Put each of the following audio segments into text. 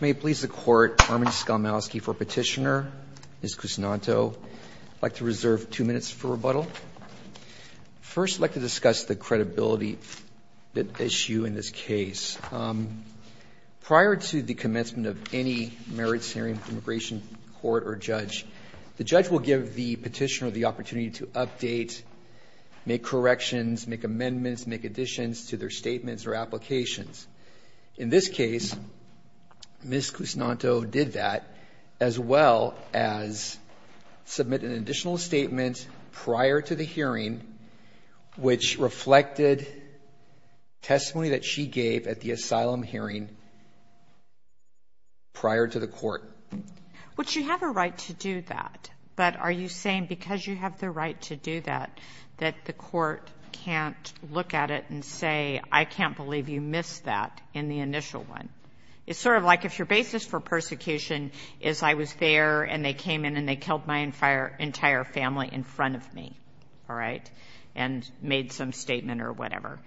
May it please the Court, Armin Skolmowsky for petitioner, Ms. Kusnanto. I'd like to reserve two minutes for rebuttal. First, I'd like to discuss the credibility issue in this case. Prior to the commencement of any merits hearing with the Immigration Court or judge, the judge will give the petitioner the opportunity to update, make corrections, make amendments, make additions to their statements or applications. In this case, Ms. Kusnanto did that, as well as submit an additional statement prior to the hearing which reflected testimony that she gave at the asylum hearing prior to the court. Would she have a right to do that? But are you saying because you have the right to do that, that the court can't look at it and say, I can't believe you missed that in the initial one? It's sort of like if your basis for persecution is I was there and they came in and they killed my entire family in front of me, all right, and made some statement or whatever.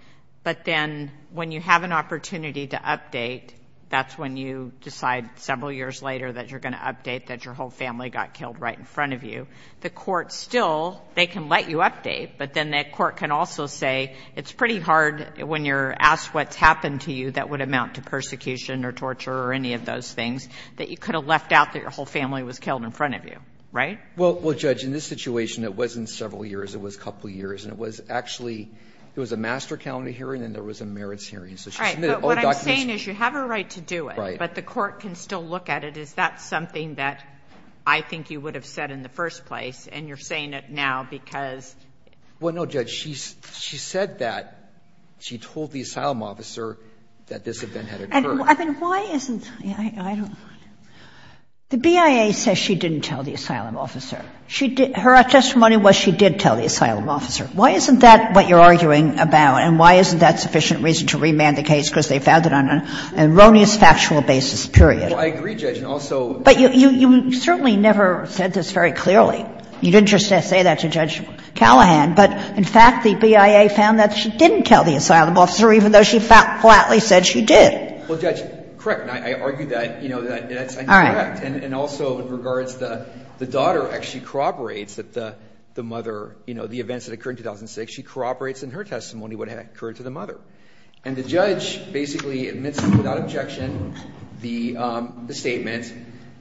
But then when you have an opportunity to update, that's when you decide several years later that you're going to update that your whole family got killed right in front of you. The court still, they can let you update, but then that court can also say it's pretty hard when you're asked what's happened to you that would amount to persecution or torture or any of those things, that you could have left out that your whole family was killed in front of you, right? Well, Judge, in this situation it wasn't several years, it was a couple of years. And it was actually, it was a master calendar hearing and there was a merits hearing. So she submitted all the documents. But what I'm saying is you have a right to do it, but the court can still look at it. Is that something that I think you would have said in the first place? And you're saying it now because. Well, no, Judge. She said that she told the asylum officer that this event had occurred. I mean, why isn't, I don't know. The BIA says she didn't tell the asylum officer. Her testimony was she did tell the asylum officer. Why isn't that what you're arguing about and why isn't that sufficient reason to remand the case because they found it on an erroneous factual basis, period? Well, I agree, Judge, and also. But you certainly never said this very clearly. You didn't just say that to Judge Callahan, but in fact the BIA found that she didn't tell the asylum officer even though she flatly said she did. Well, Judge, correct, and I argue that, you know, that's incorrect. All right. And also in regards to the daughter actually corroborates that the mother, you know, the events that occurred in 2006, she corroborates in her testimony what had occurred to the mother. And the judge basically admits without objection the statement.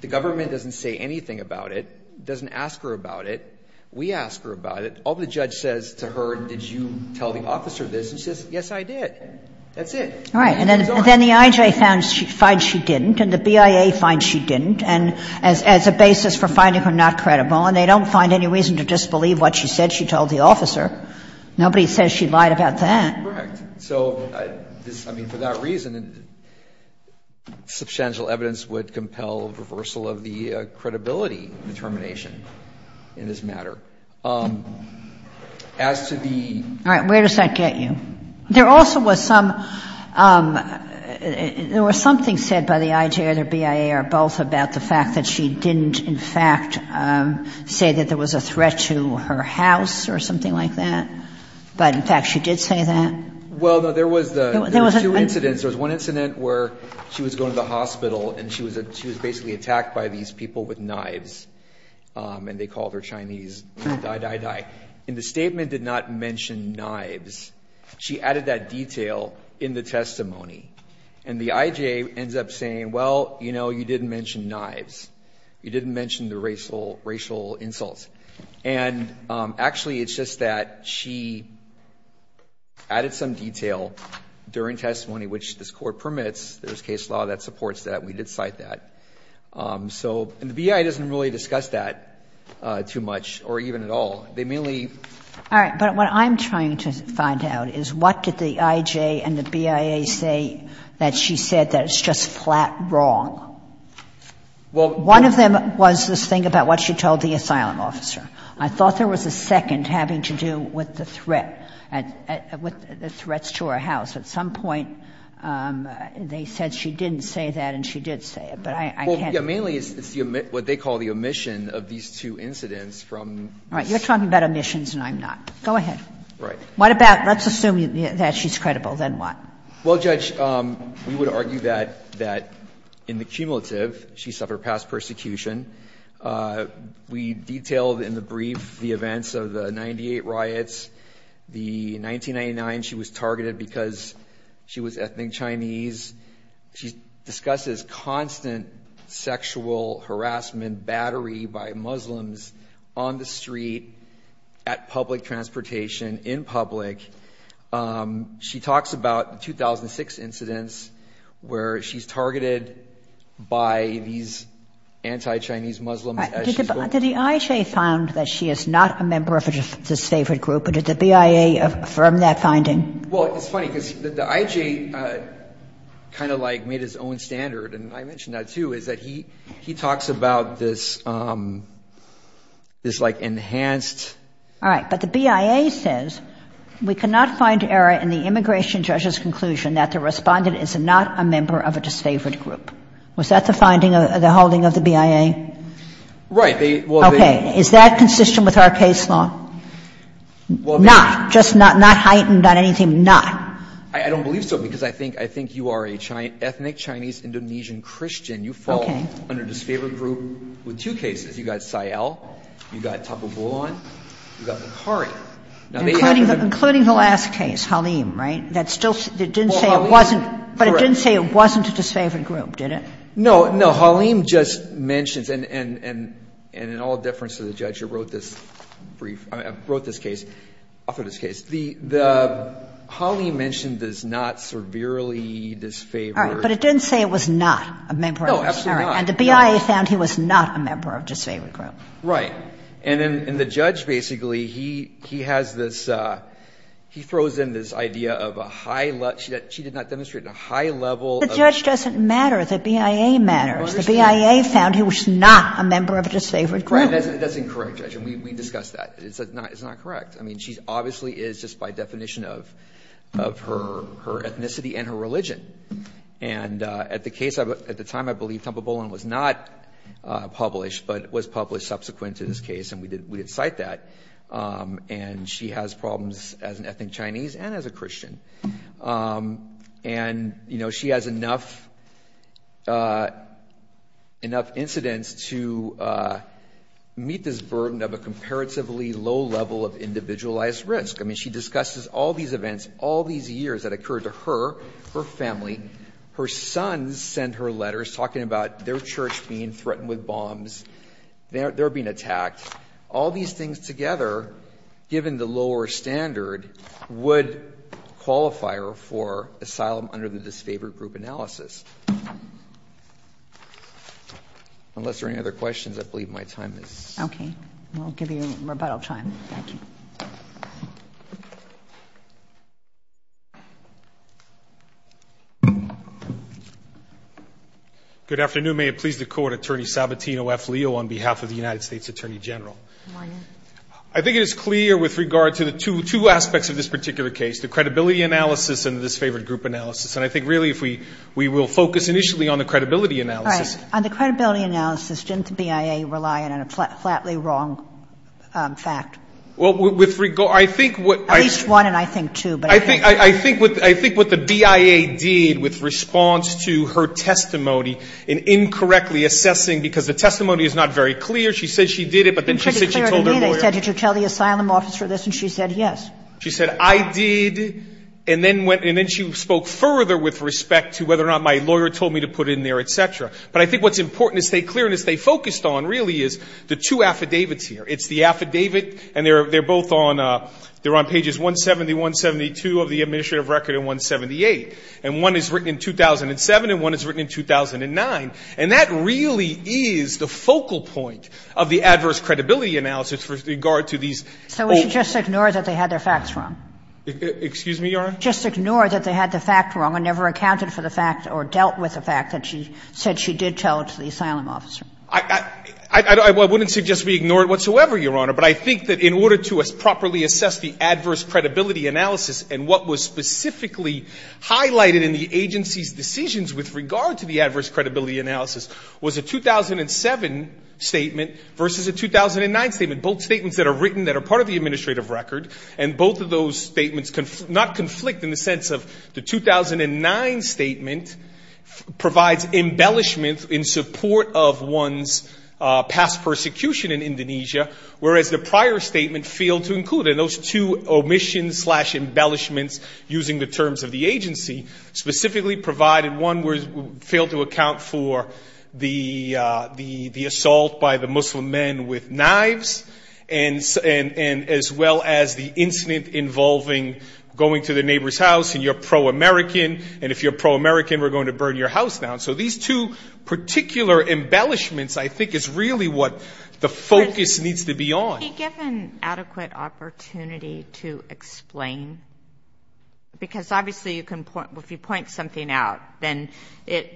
The government doesn't say anything about it, doesn't ask her about it. We ask her about it. All the judge says to her, did you tell the officer this? And she says, yes, I did. That's it. All right. And then the IJ finds she didn't, and the BIA finds she didn't, and as a basis for finding her not credible, and they don't find any reason to disbelieve what she said she told the officer. Nobody says she lied about that. Correct. So this, I mean, for that reason, substantial evidence would compel reversal of the credibility determination in this matter. As to the ---- All right. Where does that get you? There also was some ---- there was something said by the IJ or the BIA or both about the fact that she didn't, in fact, say that there was a threat to her house or something like that. But, in fact, she did say that. Well, there was two incidents. There was one incident where she was going to the hospital and she was basically attacked by these people with knives, and they called her Chinese. Die, die, die. And the statement did not mention knives. She added that detail in the testimony. And the IJ ends up saying, well, you know, you didn't mention knives. You didn't mention the racial insults. And, actually, it's just that she added some detail during testimony, which this Court permits. There's case law that supports that. We did cite that. So, and the BIA doesn't really discuss that too much or even at all. They mainly ---- Kagan. All right. But what I'm trying to find out is what did the IJ and the BIA say that she said that it's just flat wrong? Well, one of them was this thing about what she told the asylum officer. I thought there was a second having to do with the threat, with the threats to her house. At some point, they said she didn't say that and she did say it. But I can't ---- Well, yes. Mainly it's what they call the omission of these two incidents from ---- All right. You're talking about omissions and I'm not. Go ahead. Right. What about, let's assume that she's credible. Then what? Well, Judge, we would argue that in the cumulative, she suffered past persecution. We detailed in the brief the events of the 98 riots. The 1999, she was targeted because she was ethnic Chinese. She discusses constant sexual harassment, battery by Muslims on the street, at public transportation, in public. She talks about 2006 incidents where she's targeted by these anti-Chinese Muslims as she's ---- Did the IJ find that she is not a member of a disfavored group or did the BIA affirm that finding? Well, it's funny because the IJ kind of like made his own standard and I mentioned that, too, is that he talks about this like enhanced ---- All right. But the BIA says we cannot find error in the immigration judge's conclusion that the Respondent is not a member of a disfavored group. Was that the finding, the holding of the BIA? Right. Well, they ---- Okay. Is that consistent with our case law? Well, they ---- Not. Just not heightened on anything, not. I don't believe so because I think you are an ethnic Chinese Indonesian Christian. Okay. You fall under disfavored group with two cases. You've got Sayal, you've got Tapu Bulon, you've got Macari. Including the last case, Halim, right? That still didn't say it wasn't ---- But it didn't say it wasn't a disfavored group, did it? No. Halim just mentions, and in all deference to the judge who wrote this brief, wrote this case, authored this case, the Halim mentioned is not severely disfavored. All right. But it didn't say it was not a member of a disfavored group. No, absolutely not. And the BIA found he was not a member of a disfavored group. Right. And then the judge basically, he has this ---- he throws in this idea of a high level ---- she did not demonstrate a high level of ---- The judge doesn't matter. The BIA matters. The BIA found he was not a member of a disfavored group. Right. That's incorrect, Judge. And we discussed that. It's not correct. I mean, she obviously is just by definition of her ethnicity and her religion. And at the case, at the time, I believe Thumper Boland was not published, but was published subsequent to this case, and we did cite that. And she has problems as an ethnic Chinese and as a Christian. And, you know, she has enough incidents to meet this burden of a comparatively low level of individualized risk. I mean, she discusses all these events, all these years that occurred to her, her family. Her sons send her letters talking about their church being threatened with bombs, they're being attacked. All these things together, given the lower standard, would qualify her for asylum under the disfavored group analysis. Unless there are any other questions, I believe my time is up. Okay. We'll give you rebuttal time. Thank you. Good afternoon. May it please the Court, Attorney Sabatino F. Leo on behalf of the United States Attorney General. I think it is clear with regard to the two aspects of this particular case, the credibility analysis and the disfavored group analysis. And I think really if we will focus initially on the credibility analysis. All right. On the credibility analysis, didn't the BIA rely on a flatly wrong fact? Well, with regard, I think what I think. At least one, and I think two. I think what the BIA did with response to her testimony in incorrectly assessing because the testimony is not very clear. She said she did it, but then she said she told her lawyer. They said, did you tell the asylum office for this? And she said yes. She said I did, and then she spoke further with respect to whether or not my lawyer told me to put it in there, et cetera. But I think what's important to stay clear and to stay focused on really is the two affidavits here. It's the affidavit, and they're both on, they're on pages 170, 172 of the administrative record and 178. And one is written in 2007 and one is written in 2009. And that really is the focal point of the adverse credibility analysis with regard to these. So we should just ignore that they had their facts wrong? Excuse me, Your Honor? Just ignore that they had the fact wrong and never accounted for the fact or dealt with the fact that she said she did tell it to the asylum officer. I wouldn't suggest we ignore it whatsoever, Your Honor. But I think that in order to properly assess the adverse credibility analysis and what was specifically highlighted in the agency's decisions with regard to the adverse credibility analysis was a 2007 statement versus a 2009 statement. Both statements that are written that are part of the administrative record, and both of those statements not conflict in the sense of the 2009 statement provides embellishment in support of one's past persecution in Indonesia, whereas the prior statement failed to include it. And those two omissions slash embellishments using the terms of the agency specifically provided one failed to account for the assault by the Muslim men with knives and as well as the incident involving going to the neighbor's house and you're pro-American, and if you're pro-American, we're going to burn your house down. So these two particular embellishments I think is really what the focus needs to be on. Can you give an adequate opportunity to explain? Because obviously you can point, if you point something out, then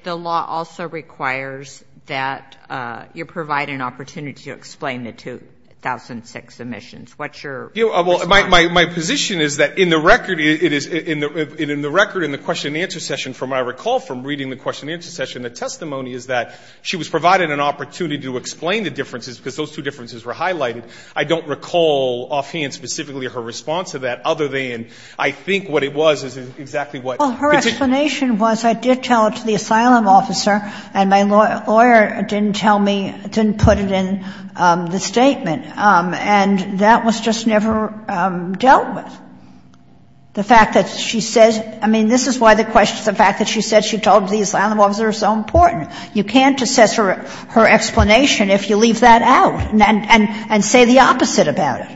the law also requires that you provide an opportunity to explain the 2006 omissions. What's your response? Well, my position is that in the record, it is in the record in the question and answer session, from what I recall from reading the question and answer session, the testimony is that she was provided an opportunity to explain the differences because those two differences were highlighted. I don't recall offhand specifically her response to that other than I think what it was is exactly what it's been. Well, her explanation was I did tell it to the asylum officer, and my lawyer didn't tell me, didn't put it in the statement. And that was just never dealt with. The fact that she says — I mean, this is why the question — the fact that she said she told the asylum officer is so important. You can't assess her explanation if you leave that out and say the opposite about it.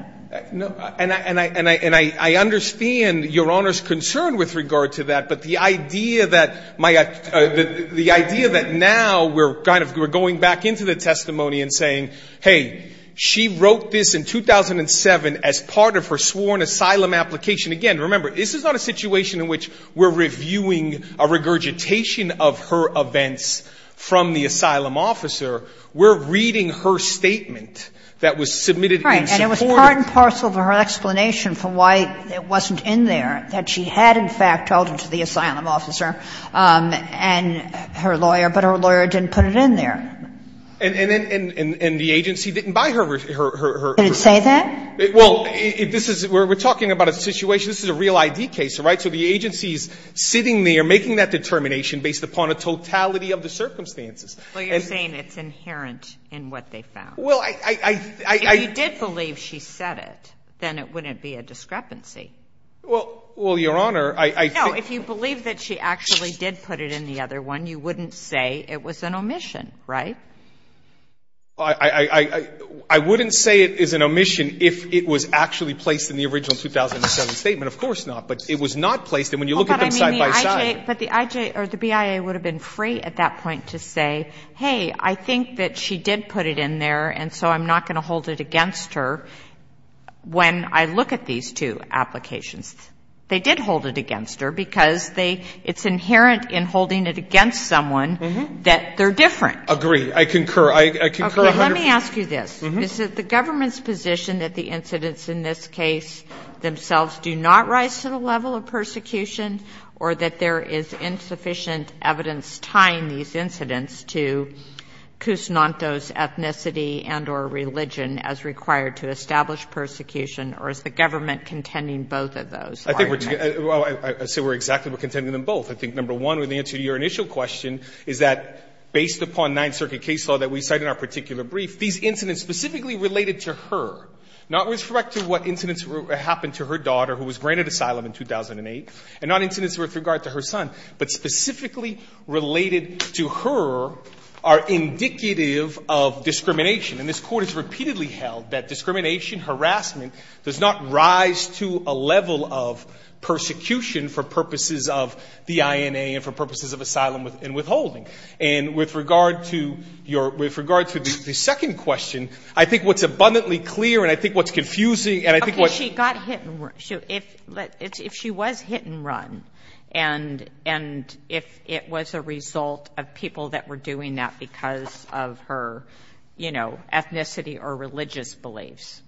And I understand Your Honor's concern with regard to that, but the idea that my — the she wrote this in 2007 as part of her sworn asylum application. Again, remember, this is not a situation in which we're reviewing a regurgitation of her events from the asylum officer. We're reading her statement that was submitted in support of — Right. And it was part and parcel of her explanation for why it wasn't in there, that she had in fact told it to the asylum officer and her lawyer, but her lawyer didn't put it in there. And the agency didn't buy her — Did it say that? Well, this is — we're talking about a situation — this is a real I.D. case, all right? So the agency is sitting there making that determination based upon a totality of the circumstances. Well, you're saying it's inherent in what they found. Well, I — If you did believe she said it, then it wouldn't be a discrepancy. Well, Your Honor, I — No, if you believe that she actually did put it in the other one, you wouldn't say it was an omission, right? I wouldn't say it is an omission if it was actually placed in the original 2007 statement. Of course not. But it was not placed. And when you look at them side by side — But the I.J. — or the BIA would have been free at that point to say, hey, I think that she did put it in there, and so I'm not going to hold it against her when I look at these two applications. They did hold it against her because they — it's inherent in holding it against someone that they're different. Agreed. I concur. I concur 100 — Okay. Let me ask you this. Is it the government's position that the incidents in this case themselves do not rise to the level of persecution, or that there is insufficient evidence tying these incidents to Kusnanto's ethnicity and or religion as required to establish persecution, or is the government contending both of those? I think we're — I say we're exactly contending them both. I think number one, with the answer to your initial question, is that based upon Ninth Circuit case law that we cite in our particular brief, these incidents specifically related to her, not with respect to what incidents happened to her daughter, who was granted asylum in 2008, and not incidents with regard to her son, but specifically related to her are indicative of discrimination. And this Court has repeatedly held that discrimination, harassment does not rise to a level of persecution for purposes of the INA and for purposes of asylum and withholding. And with regard to your — with regard to the second question, I think what's abundantly clear, and I think what's confusing, and I think what's — Okay. She got hit and — if she was hit and run, and if it was a result of people that were doing that because of her, you know, ethnicity or religious beliefs,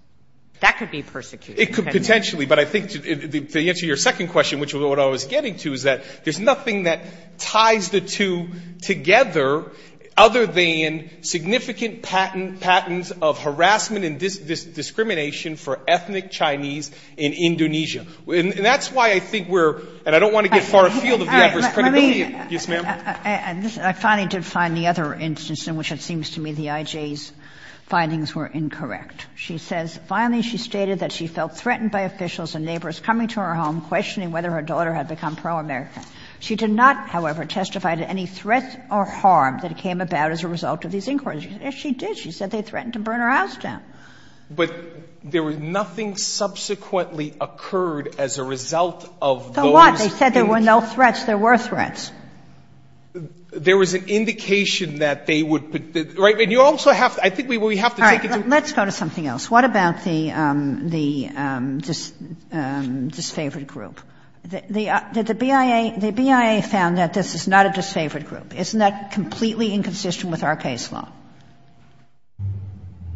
that could be persecuted. It could potentially. But I think to answer your second question, which is what I was getting to, is that there's nothing that ties the two together other than significant patents of harassment and discrimination for ethnic Chinese in Indonesia. And that's why I think we're — and I don't want to get far afield of the adverse All right. Let me — Yes, ma'am. I finally did find the other instance in which it seems to me the IJ's findings were incorrect. She says, Finally, she stated that she felt threatened by officials and neighbors coming to her home questioning whether her daughter had become pro-American. She did not, however, testify to any threat or harm that came about as a result of these inquiries. Yes, she did. She said they threatened to burn her house down. But there was nothing subsequently occurred as a result of those — The what? They said there were no threats. There were threats. There was an indication that they would — right? And you also have — I think we have to take it to — Let's go to something else. What about the disfavored group? The BIA found that this is not a disfavored group. Isn't that completely inconsistent with our case law?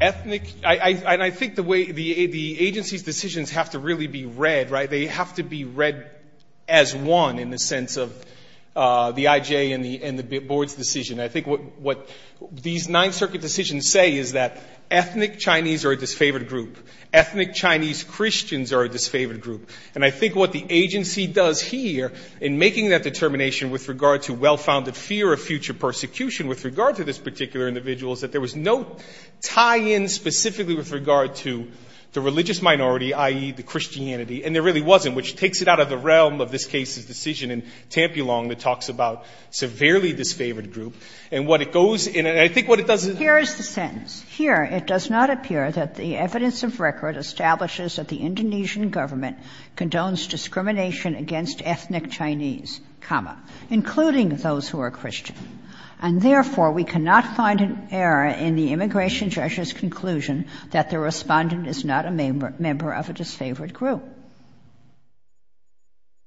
Ethnic — and I think the way — the agency's decisions have to really be read, right? They have to be read as one in the sense of the IJ and the board's decision. I think what these Ninth Circuit decisions say is that ethnic Chinese are a disfavored group. Ethnic Chinese Christians are a disfavored group. And I think what the agency does here in making that determination with regard to well-founded fear of future persecution with regard to this particular individual is that there was no tie-in specifically with regard to the religious minority, i.e., the Christianity. And there really wasn't, which takes it out of the realm of this case's decision in Tampilong that talks about severely disfavored group. And what it goes — and I think what it does is — Here is the sentence. Here, it does not appear that the evidence of record establishes that the Indonesian government condones discrimination against ethnic Chinese, comma, including those who are Christian. And therefore, we cannot find an error in the immigration judge's conclusion that the respondent is not a member of a disfavored group.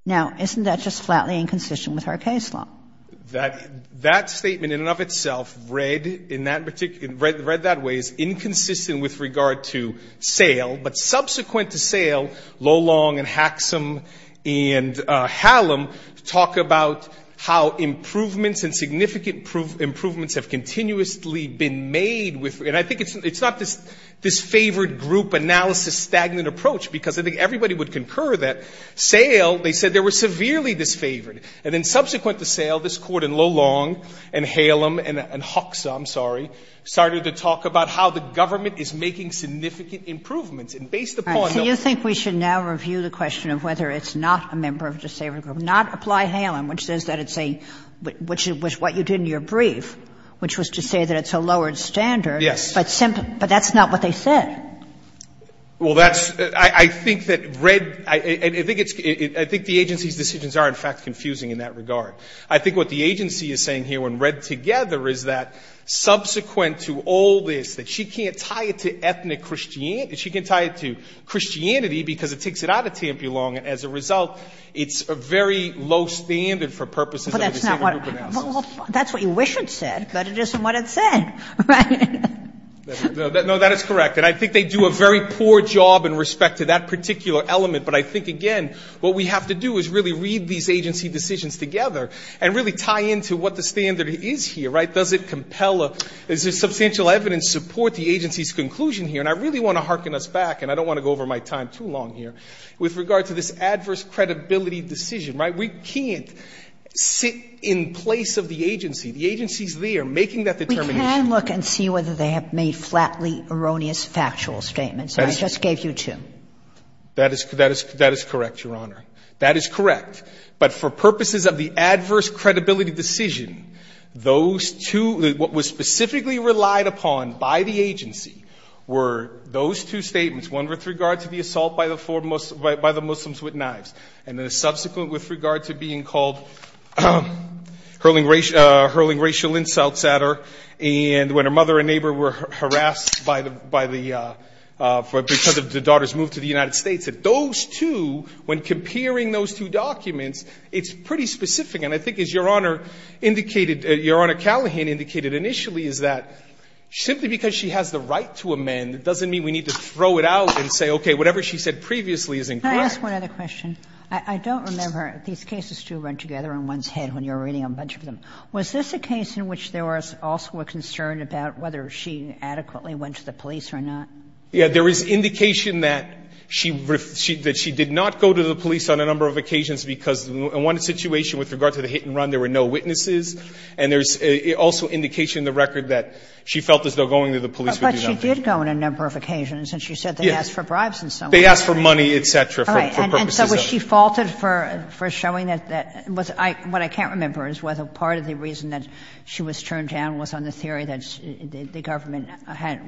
Now, isn't that just flatly inconsistent with our case law? That statement in and of itself read in that particular — read that way is inconsistent with regard to sale. But subsequent to sale, Lolong and Hacksom and Hallam talk about how improvements and significant improvements have continuously been made with — and I think it's not this disfavored group analysis stagnant approach, because I think everybody would concur that. Sale, they said they were severely disfavored. And then subsequent to sale, this Court in Lolong and Hallam and Hacksom, sorry, started to talk about how the government is making significant improvements, and based upon those — All right. So you think we should now review the question of whether it's not a member of a disfavored group, not apply Hallam, which says that it's a — which is what you did in your brief, which was to say that it's a lowered standard. Yes. But that's not what they said. Well, that's — I think that read — I think it's — I think the agency's decisions are, in fact, confusing in that regard. I think what the agency is saying here when read together is that subsequent to all this, that she can't tie it to ethnic — she can't tie it to Christianity because it takes it out of Tampulong, and as a result, it's a very low standard for purposes of a disfavored group analysis. Well, that's what you wish it said, but it isn't what it said, right? No, that is correct. And I think they do a very poor job in respect to that particular element. But I think, again, what we have to do is really read these agency decisions together and really tie into what the standard is here, right? Does it compel a — does the substantial evidence support the agency's conclusion here? And I really want to hearken us back, and I don't want to go over my time too long here, with regard to this adverse credibility decision, right? We can't sit in place of the agency. The agency's there making that determination. I can look and see whether they have made flatly erroneous factual statements, and I just gave you two. That is correct, Your Honor. That is correct. But for purposes of the adverse credibility decision, those two — what was specifically relied upon by the agency were those two statements, one with regard to the assault by the Muslims with knives, and then a subsequent with regard to being called out for hurling racial insults at her, and when her mother and neighbor were harassed by the — because of the daughter's move to the United States. Those two, when comparing those two documents, it's pretty specific. And I think, as Your Honor indicated — Your Honor Callahan indicated initially is that simply because she has the right to amend, it doesn't mean we need to throw it out and say, okay, whatever she said previously is incorrect. Kagan. Go ahead, Your Honor. I just have one other question. I don't remember. These cases do run together in one's head when you're reading a bunch of them. Was this a case in which there was also a concern about whether she adequately went to the police or not? Yeah. There was indication that she did not go to the police on a number of occasions because in one situation with regard to the hit-and-run, there were no witnesses, and there's also indication in the record that she felt there was no going to the police to do that. But she did go on a number of occasions. Yes. And she said they asked for bribes and so on. They asked for money, et cetera, for purposes of the case. All right. And so was she faulted for showing that that was — what I can't remember is whether part of the reason that she was turned down was on the theory that the government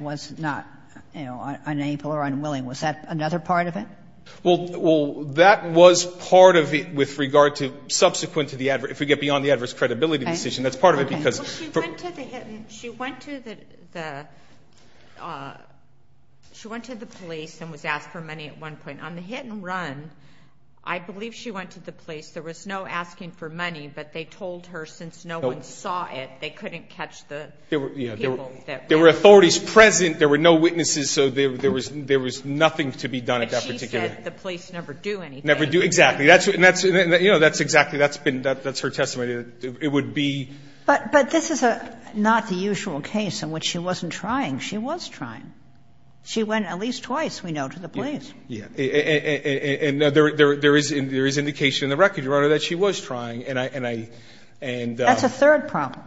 was not, you know, unable or unwilling. Was that another part of it? Well, that was part of it with regard to subsequent to the adverse — if we get beyond the adverse credibility decision. Okay. Okay. That's part of it because — She went to the — she went to the — she went to the police and was asked for money at one point. On the hit-and-run, I believe she went to the police. There was no asking for money, but they told her since no one saw it, they couldn't catch the people that were — There were authorities present. There were no witnesses, so there was nothing to be done at that particular — But she said the police never do anything. Never do — exactly. And that's — you know, that's exactly — that's been — that's her testimony. It would be — But this is not the usual case in which she wasn't trying. She was trying. She went at least twice, we know, to the police. Yeah. And there is indication in the record, Your Honor, that she was trying, and I — That's a third problem.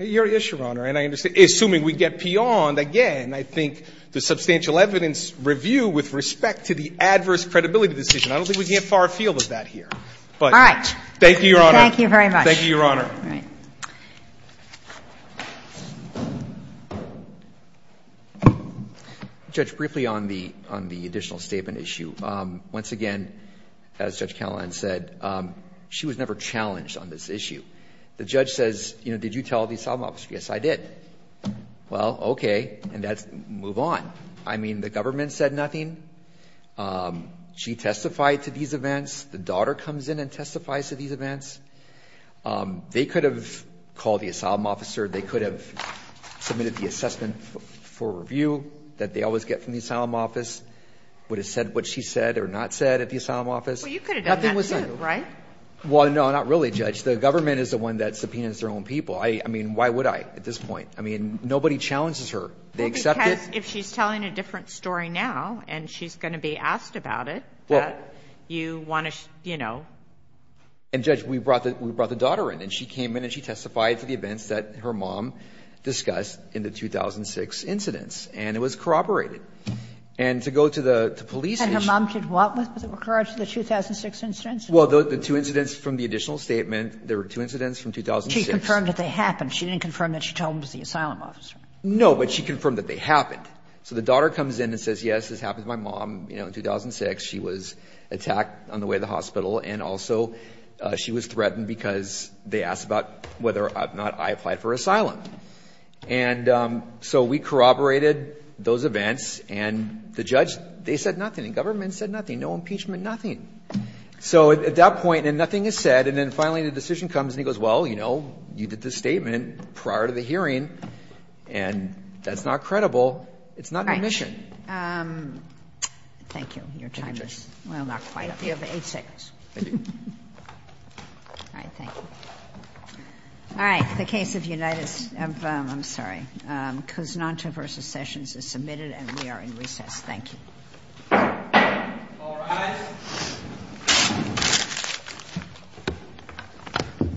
Your issue, Your Honor, and I understand — assuming we get beyond, again, I think the substantial evidence review with respect to the adverse credibility decision, I don't think we can get far afield of that here. All right. Thank you, Your Honor. Thank you very much. Thank you, Your Honor. All right. Judge, briefly on the additional statement issue, once again, as Judge Callahan said, she was never challenged on this issue. The judge says, you know, did you tell the asylum officer? Yes, I did. Well, okay. And that's — move on. I mean, the government said nothing. She testified to these events. The daughter comes in and testifies to these events. They could have called the asylum officer. They could have submitted the assessment for review that they always get from the asylum office, would have said what she said or not said at the asylum office. Well, you could have done that, too, right? Well, no, not really, Judge. The government is the one that subpoenas their own people. I mean, why would I at this point? I mean, nobody challenges her. They accept it. Well, because if she's telling a different story now and she's going to be asked about it, you want to, you know. And, Judge, we brought the daughter in. And she came in and she testified to the events that her mom discussed in the 2006 incidents. And it was corroborated. And to go to the police and she — And her mom did what with regards to the 2006 incidents? Well, the two incidents from the additional statement, there were two incidents from 2006. She confirmed that they happened. No, but she confirmed that they happened. So the daughter comes in and says, yes, this happened to my mom, you know, in 2006. She was attacked on the way to the hospital. And also she was threatened because they asked about whether or not I applied for asylum. And so we corroborated those events. And the judge, they said nothing. And government said nothing. No impeachment, nothing. So at that point, and nothing is said. And then finally the decision comes and he goes, well, you know, you did this statement prior to the hearing. And that's not credible. It's not an admission. All right. Thank you. Your time is — Thank you, Justice. Well, not quite. You have eight seconds. I do. All right. Thank you. All right. The case of Unitas — I'm sorry. All rise. Thank you. Thank you. Thank you. Thank you. Thank you. Thank you. Thank you. Thank you. Thank you. Thank you.